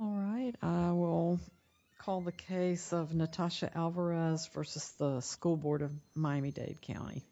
All right, I will call the case of Natasha Alvarez versus the School Board of Miami-Dade County.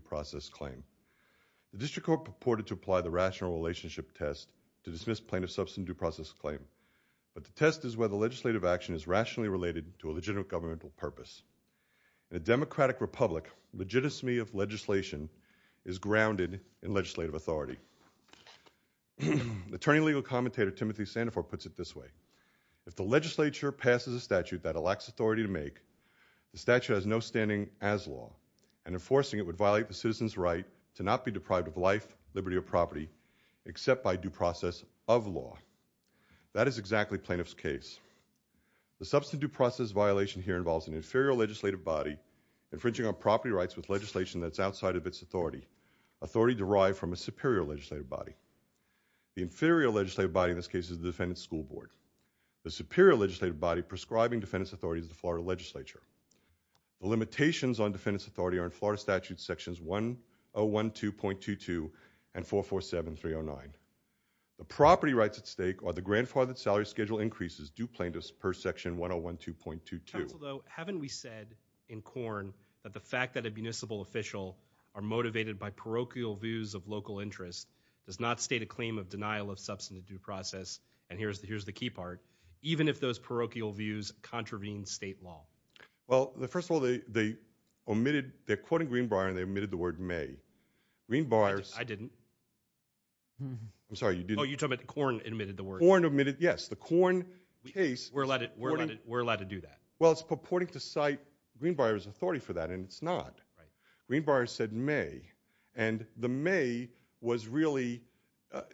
Natasha Alvarez v. School Board of Miami-Dade County, Miami-Dade County, Miami-Dade County, Alvarez v. School Board of Miami-Dade County, Alvarez v. School Board of Miami-Dade County, The substitute process violation here involves an inferior legislative body infringing on property rights with legislation that's outside of its authority, authority derived from a superior legislative body. The inferior legislative body in this case is the Defendant's School Board. The superior legislative body prescribing defendant's authority is the Florida Legislature. The limitations on defendant's authority are in Florida Statutes Sections 1012.22 and 447309. The property rights at stake are the grandfathered salary schedule increases due plaintiffs per Section 1012.22. Counsel, though, haven't we said in Corn that the fact that a municipal official are motivated by parochial views of local interest does not state a claim of denial of substantive due process, and here's the, here's the key part, even if those parochial views contravene state law? Well, first of all, they omitted, they're quoting Greenbrier and they omitted the word may. Greenbrier's. I didn't. I'm sorry, you didn't. Oh, you're talking about Corn omitted the word. Corn omitted, yes, the Corn case. We're allowed to do that. Well, it's purporting to cite Greenbrier's authority for that, and it's not. Greenbrier said may, and the may was really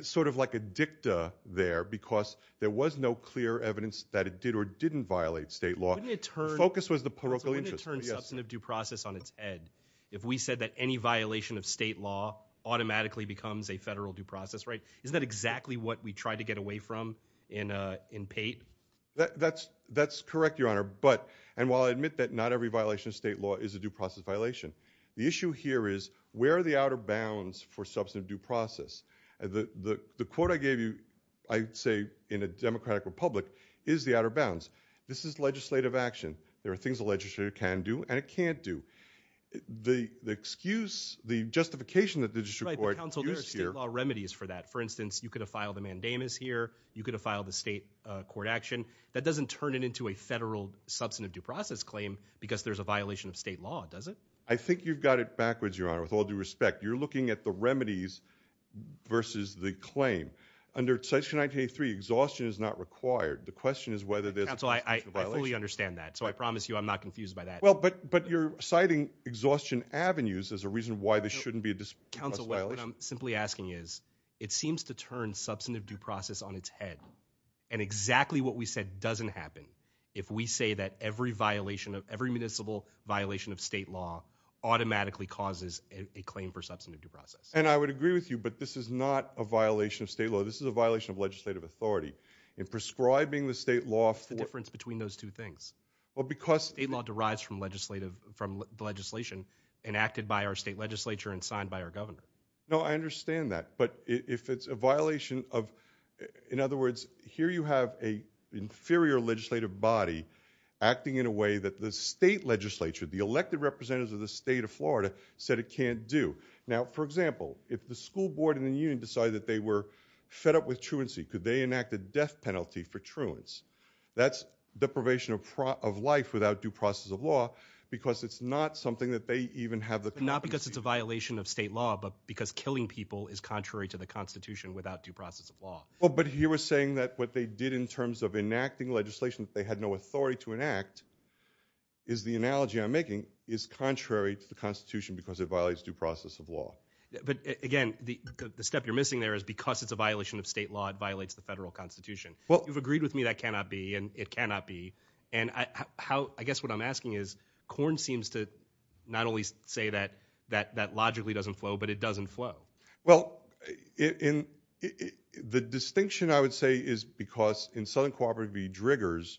sort of like a dicta there because there was no clear evidence that it did or didn't violate state law. The focus was the parochial interest. Yes. Substantive due process on its head. If we said that any violation of state law automatically becomes a federal due process, right? Isn't that exactly what we tried to get away from in Pate? That's correct, your honor, but, and while I admit that not every violation of state law is a due process violation, the issue here is where are the outer bounds for substantive due process? The quote I gave you, I say in a democratic republic, is the outer bounds. This is legislative action. There are things a legislator can do, and it can't do. The excuse, the justification that the district court used here- Right, but counsel, there are state law remedies for that. For instance, you could have filed a mandamus here. You could have filed a state court action. That doesn't turn it into a federal substantive due process claim because there's a violation of state law, does it? I think you've got it backwards, your honor, with all due respect. You're looking at the remedies versus the claim. Under section 983, exhaustion is not required. The question is whether there's a constitutional violation. Counsel, I fully understand that. So I promise you I'm not confused by that. Well, but you're citing exhaustion avenues as a reason why this shouldn't be a dispute. Counsel, what I'm simply asking is, it seems to turn substantive due process on its head. And exactly what we said doesn't happen if we say that every violation of, every municipal violation of state law automatically causes a claim for substantive due process. And I would agree with you, but this is not a violation of state law. This is a violation of legislative authority. In prescribing the state law for- Well, because- State law derives from the legislation enacted by our state legislature and signed by our governor. No, I understand that. But if it's a violation of, in other words, here you have an inferior legislative body acting in a way that the state legislature, the elected representatives of the state of Florida, said it can't do. Now, for example, if the school board and the union decided that they were fed up with truancy, could they enact a death penalty for truancy? That's deprivation of life without due process of law, because it's not something that they even have the competency- Not because it's a violation of state law, but because killing people is contrary to the constitution without due process of law. Well, but he was saying that what they did in terms of enacting legislation that they had no authority to enact, is the analogy I'm making, is contrary to the constitution because it violates due process of law. But again, the step you're missing there is because it's a violation of state law, it violates the federal constitution. You've agreed with me that cannot be, and it cannot be. And I guess what I'm asking is, Corn seems to not only say that that logically doesn't flow, but it doesn't flow. Well, the distinction I would say is because in Southern Cooperative v. Driggers,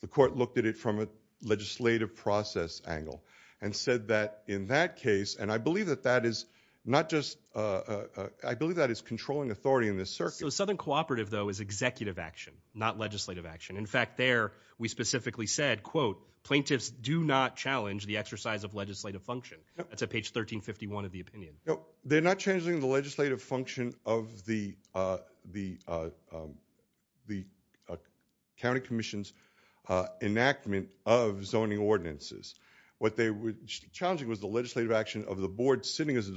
the court looked at it from a legislative process angle and said that in that case, and I believe that that is not just, I believe that is controlling authority in this circuit. So Southern Cooperative, though, is executive action, not legislative action. In fact, there, we specifically said, quote, plaintiffs do not challenge the exercise of legislative function. That's at page 1351 of the opinion. They're not changing the legislative function of the county commission's enactment of zoning ordinances. What they were challenging was the legislative action of the board sitting as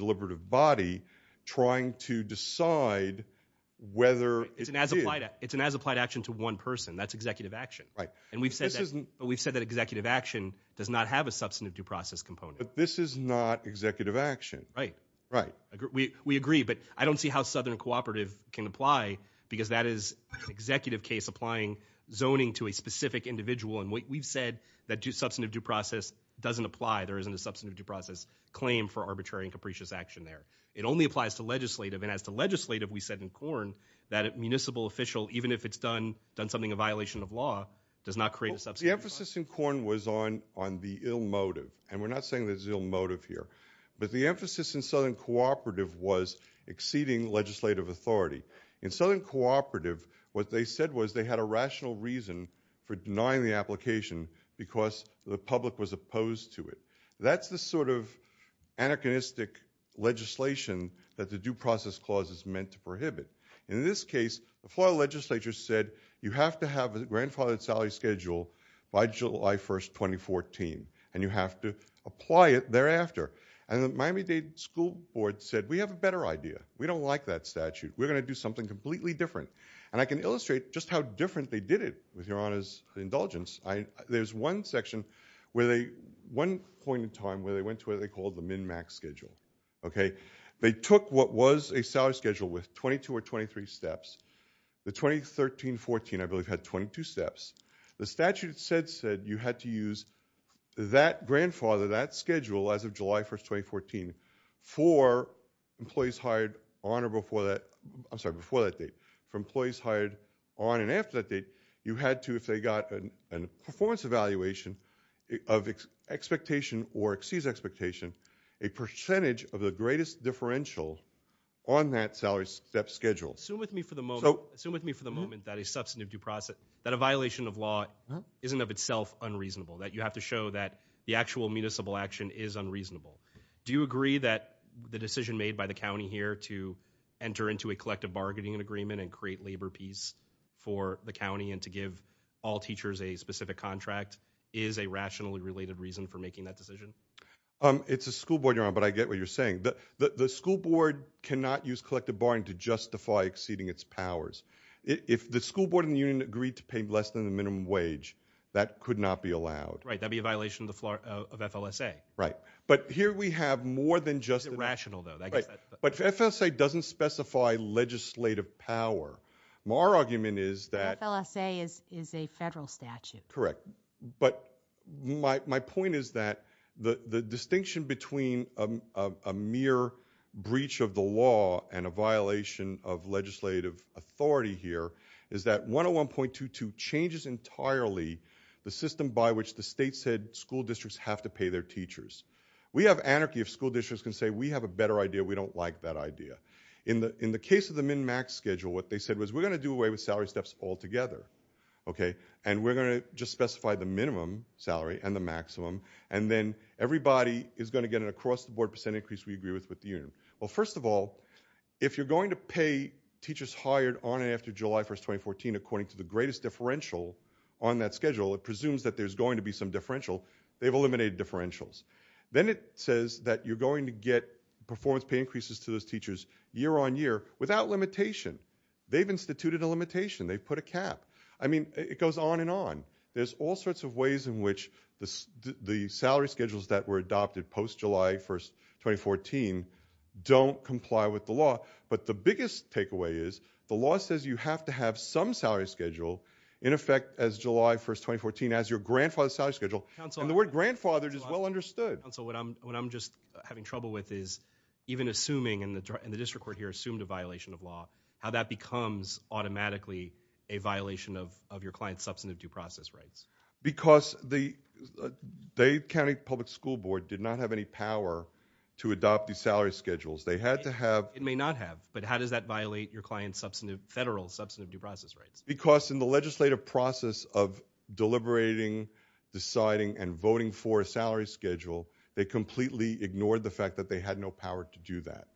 whether- It's an as-applied action to one person. That's executive action. Right. And we've said that executive action does not have a substantive due process component. But this is not executive action. Right. Right. We agree, but I don't see how Southern Cooperative can apply, because that is an executive case applying zoning to a specific individual. And we've said that substantive due process doesn't apply. There isn't a substantive due process claim for arbitrary and capricious action there. It only applies to legislative. And as to legislative, we said in Corn, that a municipal official, even if it's done something a violation of law, does not create a substantive. The emphasis in Corn was on the ill motive. And we're not saying there's ill motive here. But the emphasis in Southern Cooperative was exceeding legislative authority. In Southern Cooperative, what they said was they had a rational reason for denying the application because the public was opposed to it. That's the sort of anachronistic legislation that the due process clause is meant to prohibit. In this case, the Florida legislature said, you have to have a grandfathered salary schedule by July 1st, 2014. And you have to apply it thereafter. And the Miami-Dade School Board said, we have a better idea. We don't like that statute. We're gonna do something completely different. And I can illustrate just how different they did it, with your honor's indulgence. There's one section, one point in time, where they went to what they called the min-max schedule, okay? They took what was a salary schedule with 22 or 23 steps. The 2013-14, I believe, had 22 steps. The statute said you had to use that grandfather, that schedule, as of July 1st, 2014, for employees hired on or before that, I'm sorry, before that date, for employees hired on and before that date, you had to, if they got a performance evaluation of expectation or exceeds expectation, a percentage of the greatest differential on that salary step schedule. So- Assume with me for the moment that a substantive due process, that a violation of law isn't of itself unreasonable. That you have to show that the actual municipal action is unreasonable. Do you agree that the decision made by the county here to enter into a collective bargaining agreement and create labor peace for the county and to give all teachers a specific contract is a rationally related reason for making that decision? It's a school board, your honor, but I get what you're saying. The school board cannot use collective barring to justify exceeding its powers. If the school board in the union agreed to pay less than the minimum wage, that could not be allowed. Right, that'd be a violation of FLSA. Right, but here we have more than just- It's rational, though. But FLSA doesn't specify legislative power. Our argument is that- FLSA is a federal statute. Correct, but my point is that the distinction between a mere breach of the law and a violation of legislative authority here is that 101.22 changes entirely the system by which the state said school districts have to pay their teachers. We have anarchy if school districts can say we have a better idea, we don't like that idea. In the case of the min-max schedule, what they said was we're going to do away with salary steps altogether, okay? And we're going to just specify the minimum salary and the maximum, and then everybody is going to get an across the board percent increase we agree with with the union. Well, first of all, if you're going to pay teachers hired on and after July 1st, 2014 according to the greatest differential on that schedule, it presumes that there's going to be some differential, they've eliminated differentials. Then it says that you're going to get performance pay increases to those teachers year on year without limitation. They've instituted a limitation, they've put a cap. I mean, it goes on and on. There's all sorts of ways in which the salary schedules that were adopted post-July 1st, 2014 don't comply with the law. But the biggest takeaway is the law says you have to have some salary schedule in effect as July 1st, 2014 as your grandfather's salary schedule, and the word grandfathered is well understood. Council, what I'm just having trouble with is even assuming, and the district court here assumed a violation of law, how that becomes automatically a violation of your client's substantive due process rights. Because the Dade County Public School Board did not have any power to adopt these salary schedules. They had to have- It may not have, but how does that violate your client's federal substantive due process rights? Because in the legislative process of deliberating, deciding, and voting for a salary schedule, they completely ignored the fact that they had no power to do that.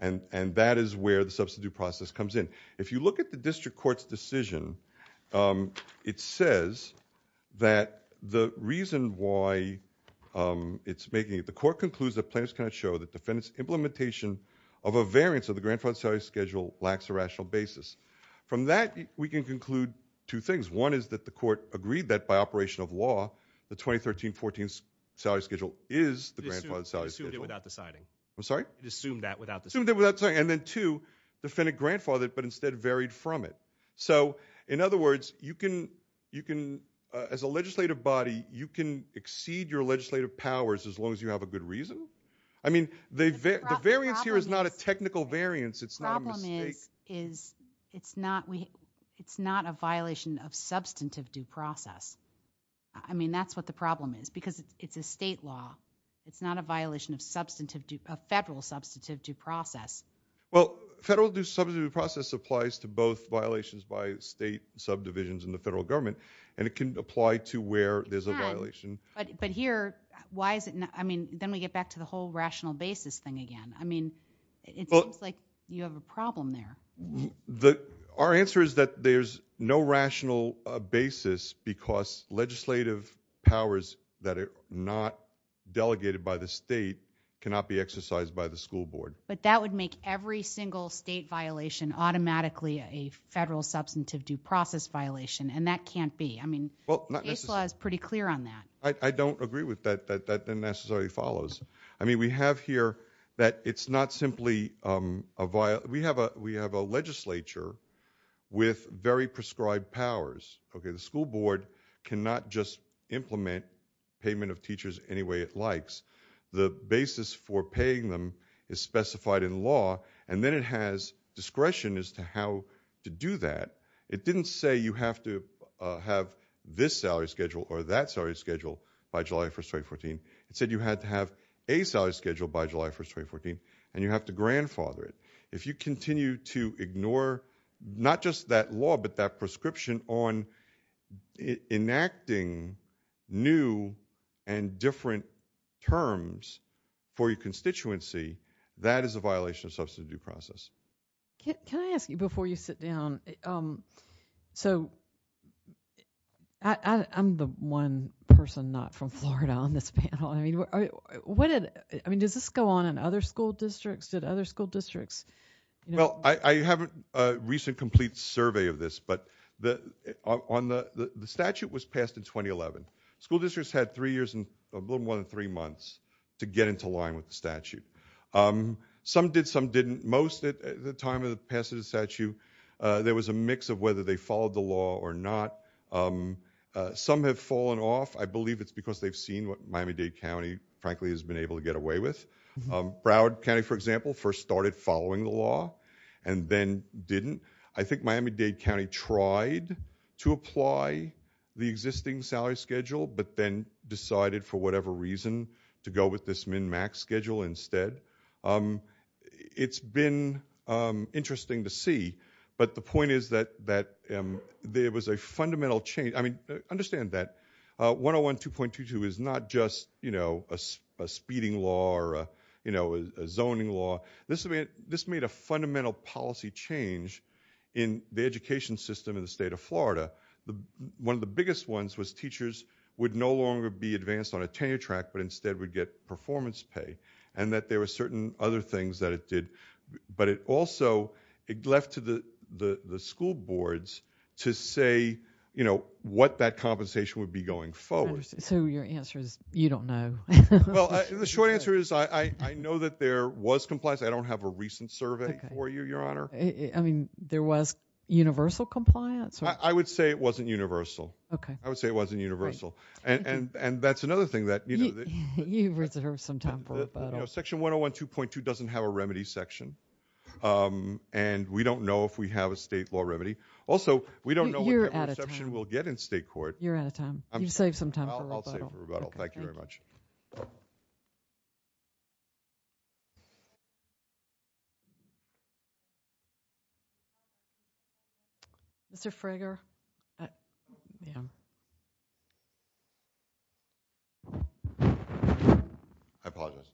And that is where the substantive due process comes in. If you look at the district court's decision, it says that the reason why it's making it, the court concludes that plaintiffs cannot show that defendant's implementation of a variance of the grandfathered salary schedule lacks a rational basis. From that, we can conclude two things. One is that the court agreed that by operation of law, the 2013-14 salary schedule is the grandfathered salary schedule. It assumed it without deciding. I'm sorry? It assumed that without deciding. Assumed it without deciding. And then two, defendant grandfathered, but instead varied from it. So, in other words, you can, as a legislative body, you can exceed your legislative powers as long as you have a good reason? I mean, the variance here is not a technical variance. The problem is, it's not a violation of substantive due process. I mean, that's what the problem is, because it's a state law. It's not a violation of federal substantive due process. Well, federal substantive due process applies to both violations by state subdivisions and the federal government, and it can apply to where there's a violation. But here, why is it not, I mean, then we get back to the whole rational basis thing again. I mean, it seems like you have a problem there. Our answer is that there's no rational basis because legislative powers that are not delegated by the state cannot be exercised by the school board. But that would make every single state violation automatically a federal substantive due process violation, and that can't be. I mean, the case law is pretty clear on that. I don't agree with that. That unnecessarily follows. I mean, we have here that it's not simply a violation. We have a legislature with very prescribed powers. Okay, the school board cannot just implement payment of teachers any way it likes. The basis for paying them is specified in law, and then it has discretion as to how to do that. It didn't say you have to have this salary schedule or that salary schedule by July 1st, 2014. It said you had to have a salary schedule by July 1st, 2014, and you have to grandfather it. If you continue to ignore, not just that law, but that prescription on enacting new and different terms for your constituency, that is a violation of substantive due process. Can I ask you before you sit down, so I'm the one person not from Florida on this panel. I mean, does this go on in other school districts? Did other school districts? Well, I haven't a recent complete survey of this, but the statute was passed in 2011. School districts had a little more than three months to get into line with the statute. Some did, some didn't. Most at the time of the passage of the statute, there was a mix of whether they followed the law or not. Some have fallen off. I believe it's because they've seen what Miami-Dade County, frankly, has been able to get away with. Broward County, for example, first started following the law and then didn't. I think Miami-Dade County tried to apply the existing salary schedule, but then decided for whatever reason to go with this min-max schedule instead. It's been interesting to see, but the point is that there was a fundamental change. I mean, understand that 101 2.22 is not just a speeding law or a zoning law. This made a fundamental policy change in the education system in the state of Florida. One of the biggest ones was teachers would no longer be advanced on a tenure track, but instead would get performance pay. And that there were certain other things that it did. But it also, it left to the school boards to say what that compensation would be going forward. So your answer is, you don't know. Well, the short answer is I know that there was compliance. I don't have a recent survey for you, your honor. I mean, there was universal compliance? I would say it wasn't universal. Okay. I would say it wasn't universal. And that's another thing that- You reserve some time for rebuttal. Section 101 2.2 doesn't have a remedy section. And we don't know if we have a state law remedy. Also, we don't know what- You're out of time. Reception we'll get in state court. You're out of time. You've saved some time for rebuttal. I'll save for rebuttal. Thank you very much. Mr. Frager? I apologize.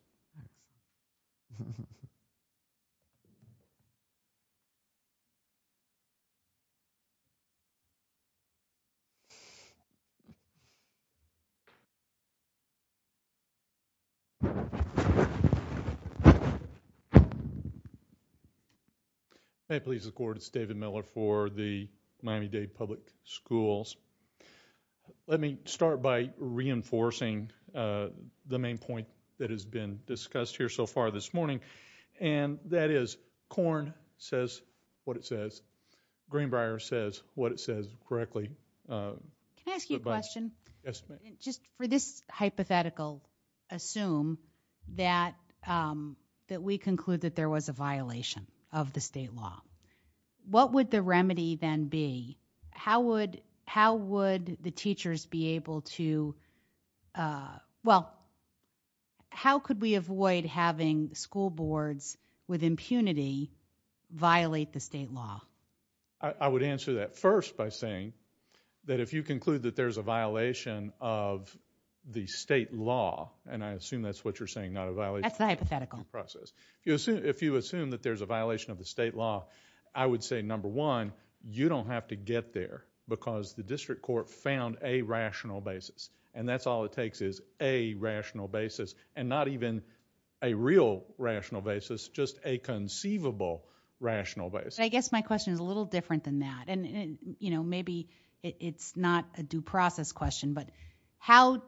May it please the court, it's David Miller for the Miami-Dade Public Schools. Let me start by reinforcing the main point that has been discussed here so far this morning. And that is corn says what it says. Greenbrier says what it says correctly. Can I ask you a question? Yes, ma'am. Just for this hypothetical, assume that we conclude that there was a violation of the state law. What would the remedy then be? How would the teachers be able to, well, how could we avoid having school boards with impunity violate the state law? I would answer that first by saying that if you conclude that there's a violation of the state law, and I assume that's what you're saying, not a violation- That's the hypothetical. Process. If you assume that there's a violation of the state law, I would say, number one, you don't have to get there because the district court found a rational basis. And that's all it takes is a rational basis. And not even a real rational basis, just a conceivable rational basis. I guess my question is a little different than that. And, you know, maybe it's not a due process question. But how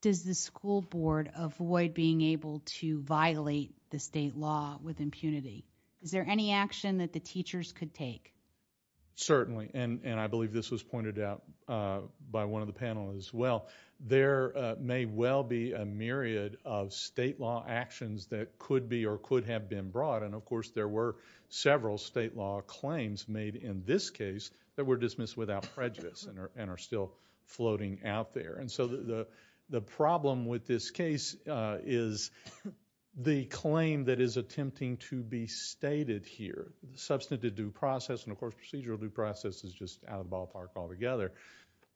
does the school board avoid being able to violate the state law with impunity? Is there any action that the teachers could take? Certainly. And I believe this was pointed out by one of the panelists as well. There may well be a myriad of state law actions that could be or could have been brought. And, of course, there were several state law claims made in this case that were dismissed without prejudice and are still floating out there. And so the problem with this case is the claim that is attempting to be stated here, substantive due process. And, of course, procedural due process is just out of the ballpark altogether.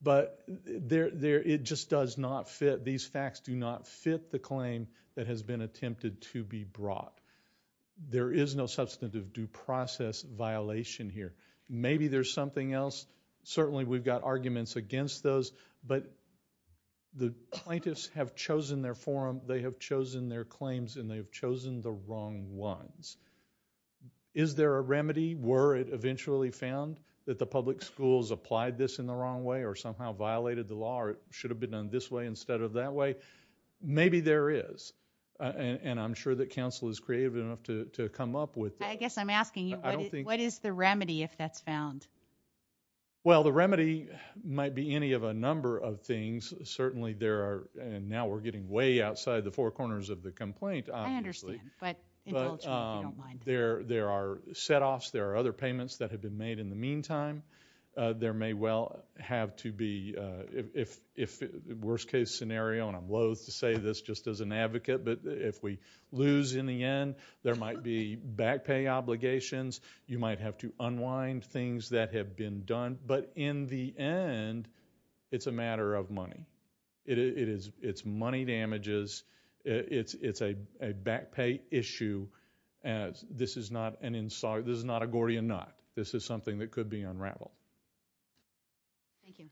But it just does not fit. These facts do not fit the claim that has been attempted to be brought. There is no substantive due process violation here. Maybe there's something else. Certainly, we've got arguments against those. But the plaintiffs have chosen their forum. They have chosen their claims. And they have chosen the wrong ones. Is there a remedy? Were it eventually found that the public schools applied this in the wrong way or somehow violated the law or it should have been done this way instead of that way? Maybe there is. And I'm sure that counsel is creative enough to come up with that. I guess I'm asking you, what is the remedy if that's found? Well, the remedy might be any of a number of things. Certainly, there are. And now we're getting way outside the four corners of the complaint, obviously. I understand. But indulge me if you don't. There are setoffs. There are other payments that have been made in the meantime. There may well have to be, if worst case scenario, and I'm loathe to say this just as an advocate, but if we lose in the end, there might be back pay obligations. You might have to unwind things that have been done. But in the end, it's a matter of money. It's money damages. It's a back pay issue. This is not a Gordian knot. This is something that could be unraveled. Thank you.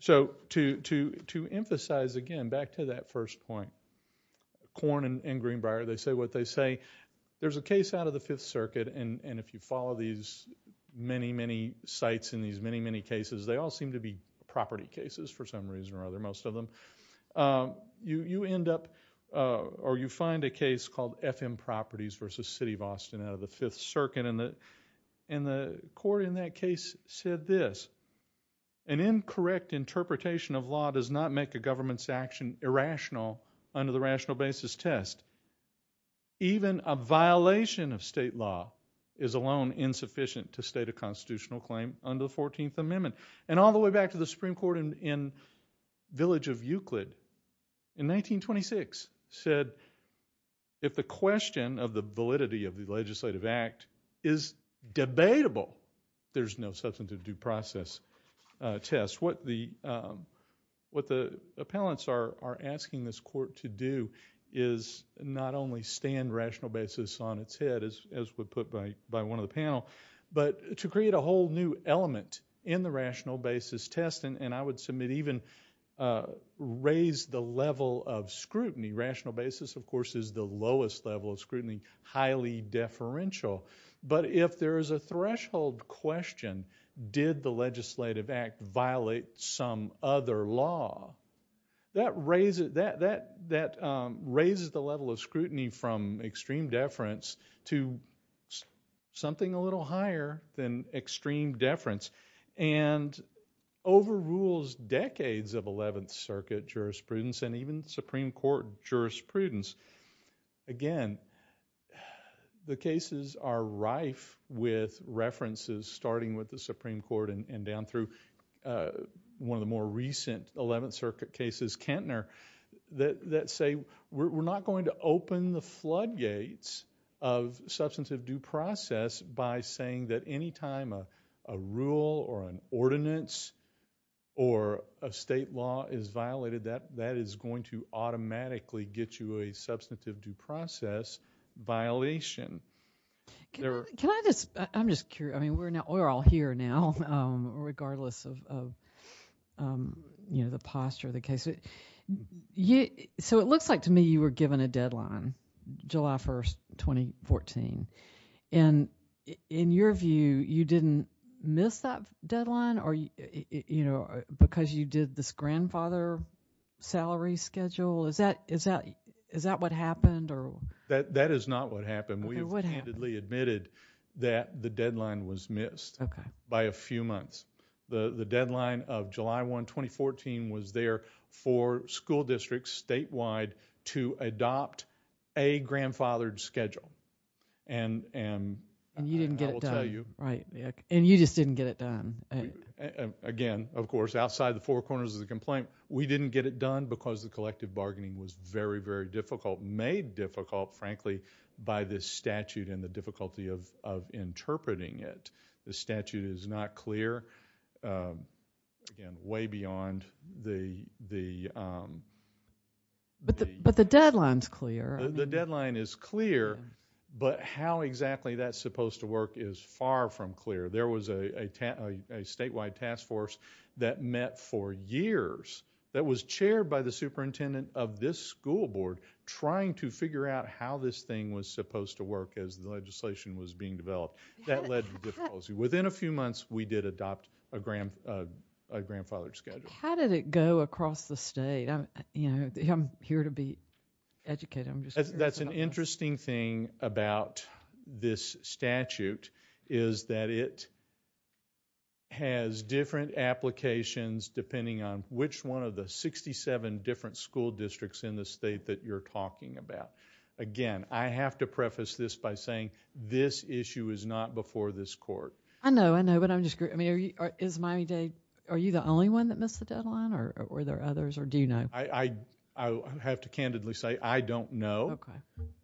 So to emphasize again, back to that first point, Korn and Greenbrier, they say what they say. There's a case out of the Fifth Circuit, and if you follow these many, many sites in these many, many cases, they all seem to be property cases for some reason or other, most of them. But you end up or you find a case called FM Properties versus City of Austin out of the Fifth Circuit, and the court in that case said this, an incorrect interpretation of law does not make a government's action irrational under the rational basis test. Even a violation of state law is alone insufficient to state a constitutional claim under the 14th Amendment. And all the way back to the Supreme Court in Village of Euclid, in 1926, said if the question of the validity of the legislative act is debatable, there's no substantive due process test. What the appellants are asking this court to do is not only stand rational basis on its head, as was put by one of the panel, but to create a whole new element in the rational basis test, and I would submit even raise the level of scrutiny. Rational basis, of course, is the lowest level of scrutiny, highly deferential, but if there is a threshold question, did the legislative act violate some other law, that raises the level of scrutiny from extreme deference to something a little higher than extreme deference, and overrules decades of 11th Circuit jurisprudence and even Supreme Court jurisprudence. Again, the cases are rife with references starting with the Supreme Court and down through one of the more recent 11th Circuit cases, Kentner, that say we're not going to open the floodgates of substantive due process by saying that any time a rule or an ordinance or a state law is violated, that is going to automatically get you a substantive due process violation. Can I just, I'm just curious, I mean, we're all here now, regardless of, you know, the posture of the case. So it looks like to me you were given a deadline, July 1st, 2014, and in your view, you didn't miss that deadline or, you know, because you did this grandfather salary schedule? Is that what happened? That is not what happened. We have candidly admitted that the deadline was missed by a few months. The deadline of July 1, 2014, was there for school districts statewide to adopt a grandfathered schedule, and I will tell you. Right, and you just didn't get it done. Again, of course, outside the four corners of the complaint, we didn't get it done because the collective bargaining was very, very difficult, made difficult, frankly, by this statute and the difficulty of interpreting it. The statute is not clear. Again, way beyond the... But the deadline's clear. The deadline is clear, but how exactly that's supposed to work is far from clear. There was a statewide task force that met for years that was chaired by the superintendent of this school board trying to figure out how this thing was supposed to work as the legislation was being developed. That led to difficulty. Within a few months, we did adopt a grandfathered schedule. How did it go across the state? I'm here to be educated. That's an interesting thing about this statute is that it has different applications depending on which one of the 67 different school districts in the state that you're talking about. Again, I have to preface this by saying this issue is not before this court. I know, I know, but I'm just curious. I mean, is Miami-Dade... Are you the only one that missed the deadline, or were there others, or do you know? I have to candidly say I don't know,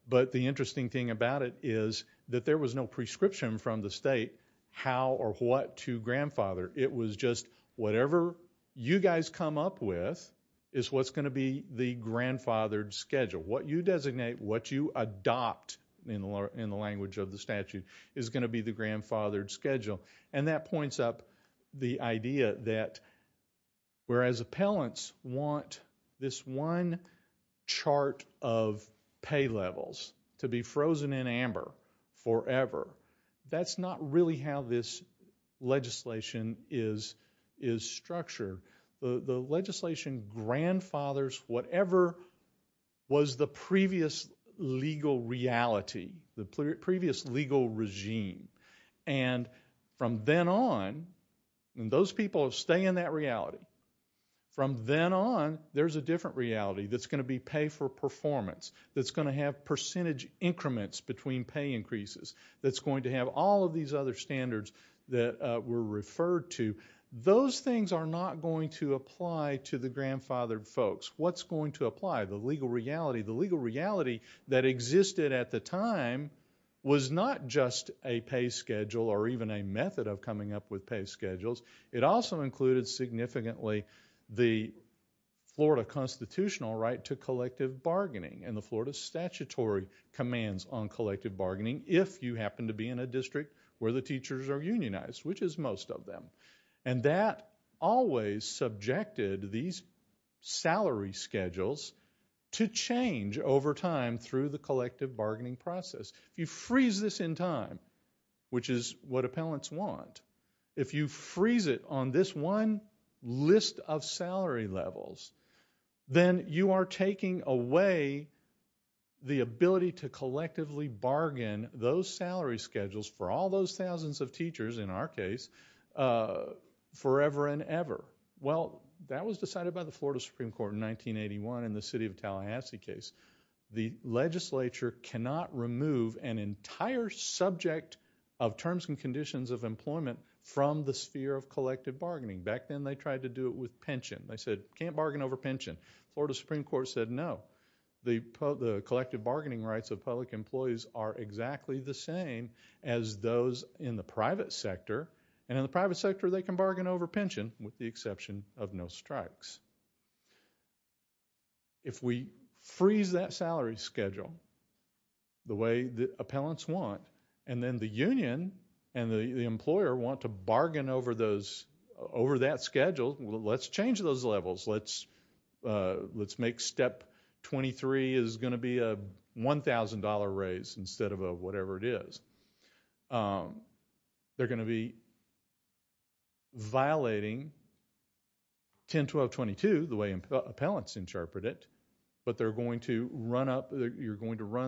but the interesting thing about it is that there was no prescription from the state how or what to grandfather. It was just whatever you guys come up with is what's going to be the grandfathered schedule. What you designate, what you adopt in the language of the statute is going to be the grandfathered schedule. That points up the idea that whereas appellants want this one chart of pay levels to be frozen in amber forever, that's not really how this legislation is structured. The legislation grandfathers whatever was the previous legal reality, the previous legal regime, and from then on, and those people stay in that reality, from then on there's a different reality that's going to be pay for performance, that's going to have percentage increments between pay increases, that's going to have all of these other standards that were referred to. Those things are not going to apply to the grandfathered folks. What's going to apply? The legal reality, the legal reality that existed at the time was not just a pay schedule or even a method of coming up with pay schedules. It also included significantly the Florida constitutional right to collective bargaining and the Florida statutory commands on collective bargaining if you happen to be in a district where the teachers are unionized, which is most of them. That always subjected these salary schedules to change over time through the collective bargaining process. If you freeze this in time, which is what appellants want, if you freeze it on this one list of salary levels, then you are taking away the ability to collectively bargain those forever and ever. Well, that was decided by the Florida Supreme Court in 1981 in the city of Tallahassee case. The legislature cannot remove an entire subject of terms and conditions of employment from the sphere of collective bargaining. Back then they tried to do it with pension. They said, can't bargain over pension. Florida Supreme Court said no. The collective bargaining rights of public employees are exactly the same as those in the private sector and in the private sector they can bargain over pension with the exception of no strikes. If we freeze that salary schedule the way that appellants want and then the union and the employer want to bargain over that schedule, let's change those levels. Let's make step 23 is going to be a $1,000 raise instead of whatever it is. They're going to be violating 10-12-22 the way appellants interpret it, but you're going to run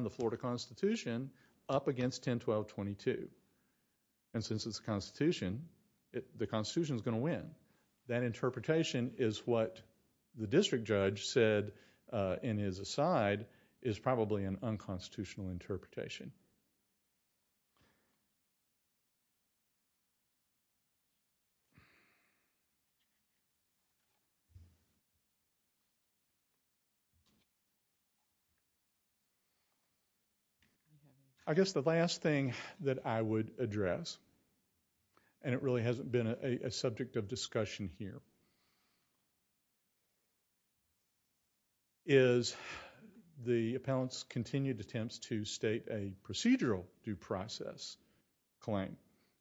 the Florida Constitution up against 10-12-22. Since it's a constitution, the constitution is going to win. That interpretation is what the district judge said in his aside is probably an unconstitutional interpretation. I guess the last thing that I would address, and it really hasn't been a subject of discussion here, is the appellant's continued attempts to state a procedural due process claim.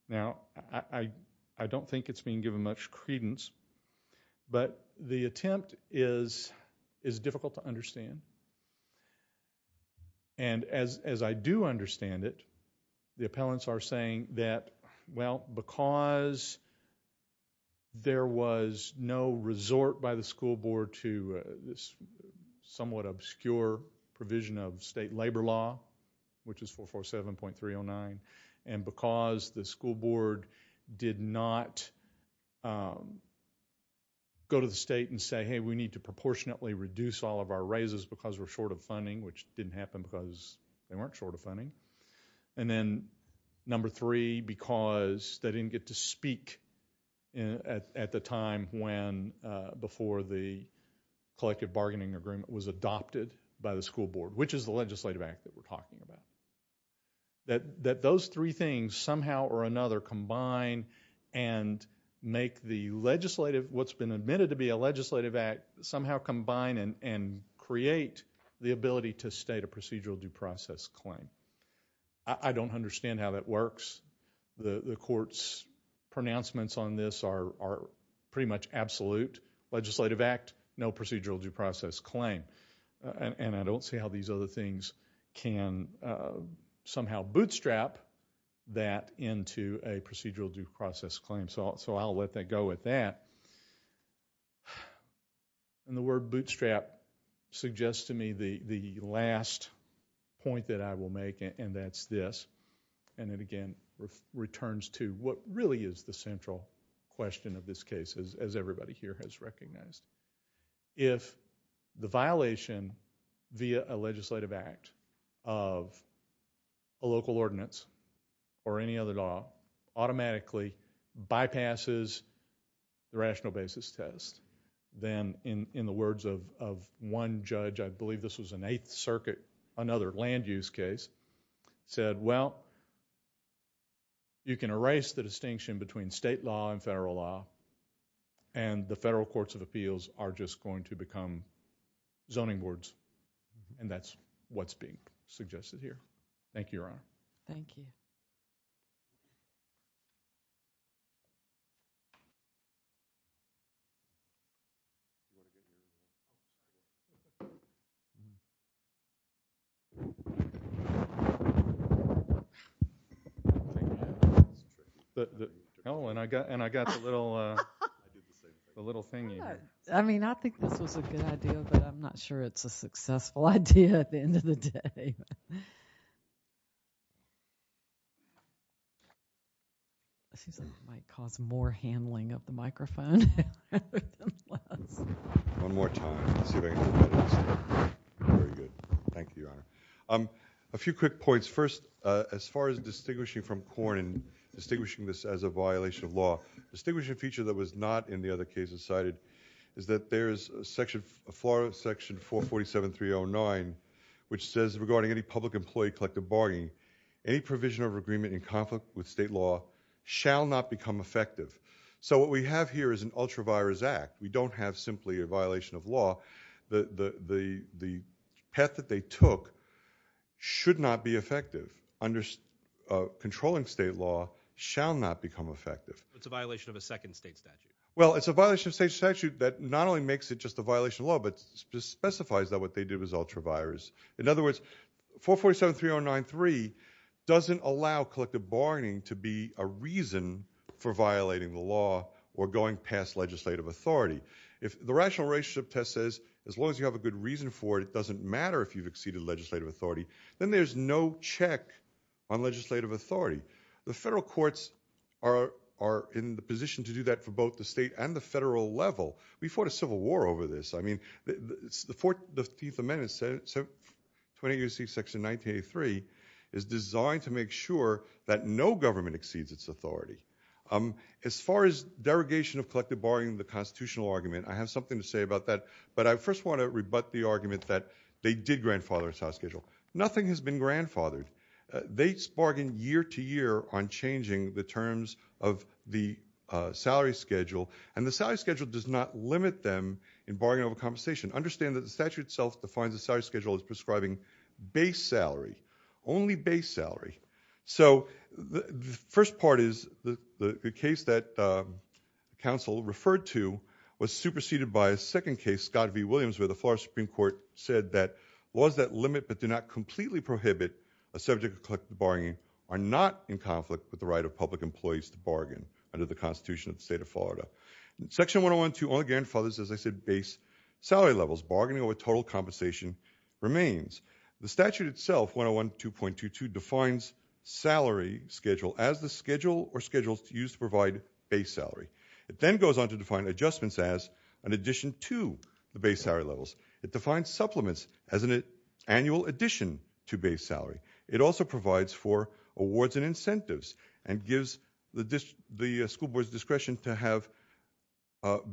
Now, I don't think it's being given much credence, but the attempt is difficult to understand. As I do understand it, the appellants are saying that, well, because there was no resort by the school board to this somewhat obscure provision of state labor law, which is 447.309, and because the school board did not go to the state and say, hey, we need to proportionately reduce all of our raises because we're short of funding, which didn't happen because they weren't short of funding. And then number three, because they didn't get to speak at the time before the collective bargaining agreement was adopted by the school board, which is the legislative act that we're talking about. That those three things somehow or another combine and make what's been admitted to be a legislative act somehow combine and create the ability to state a procedural due process claim. I don't understand how that works. The court's pronouncements on this are pretty much absolute. Legislative act, no procedural due process claim. And I don't see how these other things can somehow bootstrap that into a procedural due process claim. So I'll let that go with that. And the word bootstrap suggests to me the last point that I will make, and that's this, and it again returns to what really is the central question of this case, as everybody here has recognized. If the violation via a legislative act of a local ordinance or any other law automatically bypasses the rational basis test, then in the words of one judge, I believe this was in Eighth Circuit, another land use case, said, well, you can erase the distinction between state law and federal law, and the federal courts of appeals are just going to become zoning boards. And that's what's being suggested here. Thank you, Your Honor. Thank you. Oh, and I got the little thingy here. I mean, I think this was a good idea, but I'm not sure it's a successful idea at the end of the day. It seems like it might cause more handling of the microphone. One more time. Very good. Thank you, Your Honor. A few quick points. First, as far as distinguishing from Corn and distinguishing this as a violation of law, a distinguishing feature that was not in the other cases cited is that there's a public-employee collective bargaining. Any provision of agreement in conflict with state law shall not become effective. So what we have here is an ultra-virus act. We don't have simply a violation of law. The path that they took should not be effective. Controlling state law shall not become effective. It's a violation of a second state statute. Well, it's a violation of state statute that not only makes it just a violation of law, but specifies that what they did was ultra-virus. In other words, 447-3093 doesn't allow collective bargaining to be a reason for violating the law or going past legislative authority. If the rational relationship test says, as long as you have a good reason for it, it doesn't matter if you've exceeded legislative authority, then there's no check on legislative authority. The federal courts are in the position to do that for both the state and the federal level. We fought a civil war over this. The 14th Amendment, 28 U.C. section 1983, is designed to make sure that no government exceeds its authority. As far as derogation of collective bargaining, the constitutional argument, I have something to say about that. But I first want to rebut the argument that they did grandfather its house schedule. Nothing has been grandfathered. They bargained year to year on changing the terms of the salary schedule, and the salary schedule conversation. Understand that the statute itself defines the salary schedule as prescribing base salary. Only base salary. So the first part is the case that counsel referred to was superseded by a second case, Scott v. Williams, where the Florida Supreme Court said that laws that limit but do not completely prohibit a subject of collective bargaining are not in conflict with the right Section 101.2 only grandfathers, as I said, base salary levels. Bargaining over total compensation remains. The statute itself, 101.2.2.2, defines salary schedule as the schedule or schedules used to provide base salary. It then goes on to define adjustments as an addition to the base salary levels. It defines supplements as an annual addition to base salary. It also provides for awards and incentives and gives the school board's discretion to have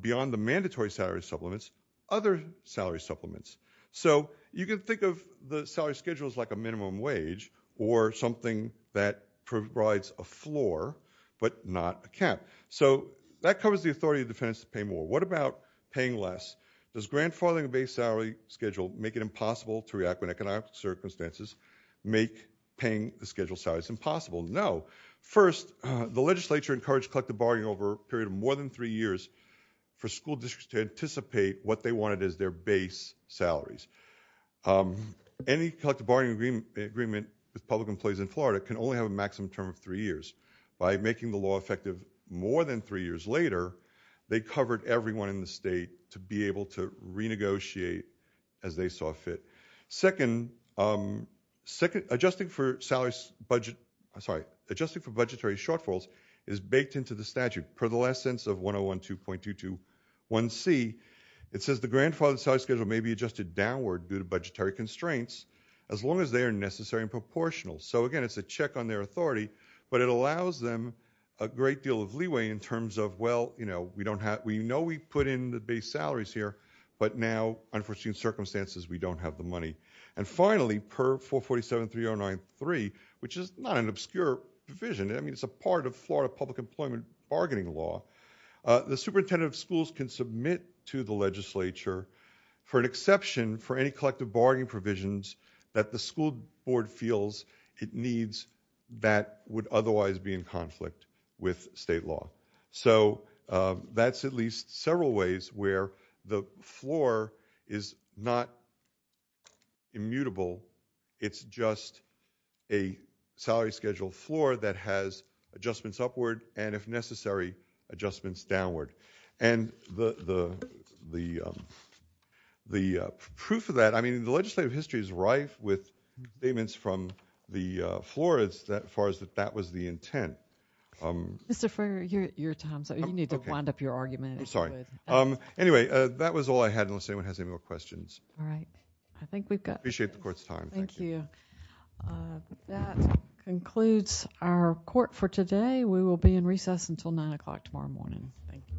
beyond the mandatory salary supplements, other salary supplements. So you can think of the salary schedule as like a minimum wage or something that provides a floor but not a cap. So that covers the authority of defendants to pay more. What about paying less? Does grandfathering a base salary schedule make it impossible to react when economic circumstances make paying the schedule salaries impossible? No. First, the legislature encouraged collective bargaining over a period of more than three years for school districts to anticipate what they wanted as their base salaries. Any collective bargaining agreement with public employees in Florida can only have a maximum term of three years. By making the law effective more than three years later, they covered everyone in the state to be able to renegotiate as they saw fit. Second, adjusting for budgetary shortfalls is baked into the statute. Per the last sentence of 101.221C, it says the grandfathered salary schedule may be adjusted downward due to budgetary constraints as long as they are necessary and proportional. So, again, it's a check on their authority, but it allows them a great deal of leeway in terms of, well, you know, we know we put in the base salaries here, but now, unfortunately, in certain circumstances, we don't have the money. And finally, per 447.3093, which is not an obscure provision, I mean, it's a part of Florida public employment bargaining law, the superintendent of schools can submit to the legislature for an exception for any collective bargaining provisions that the school board feels it needs that would otherwise be in conflict with state law. So that's at least several ways where the floor is not immutable. It's just a salary schedule floor that has adjustments upward and, if necessary, adjustments downward. And the proof of that, I mean, the legislative history is rife with statements from the Florids that as far as that was the intent. Mr. Frayer, your time's up. You need to wind up your argument. I'm sorry. Anyway, that was all I had, unless anyone has any more questions. All right. I think we've got time. I appreciate the court's time. Thank you. That concludes our court for today. We will be in recess until 9 o'clock tomorrow morning. Thank you.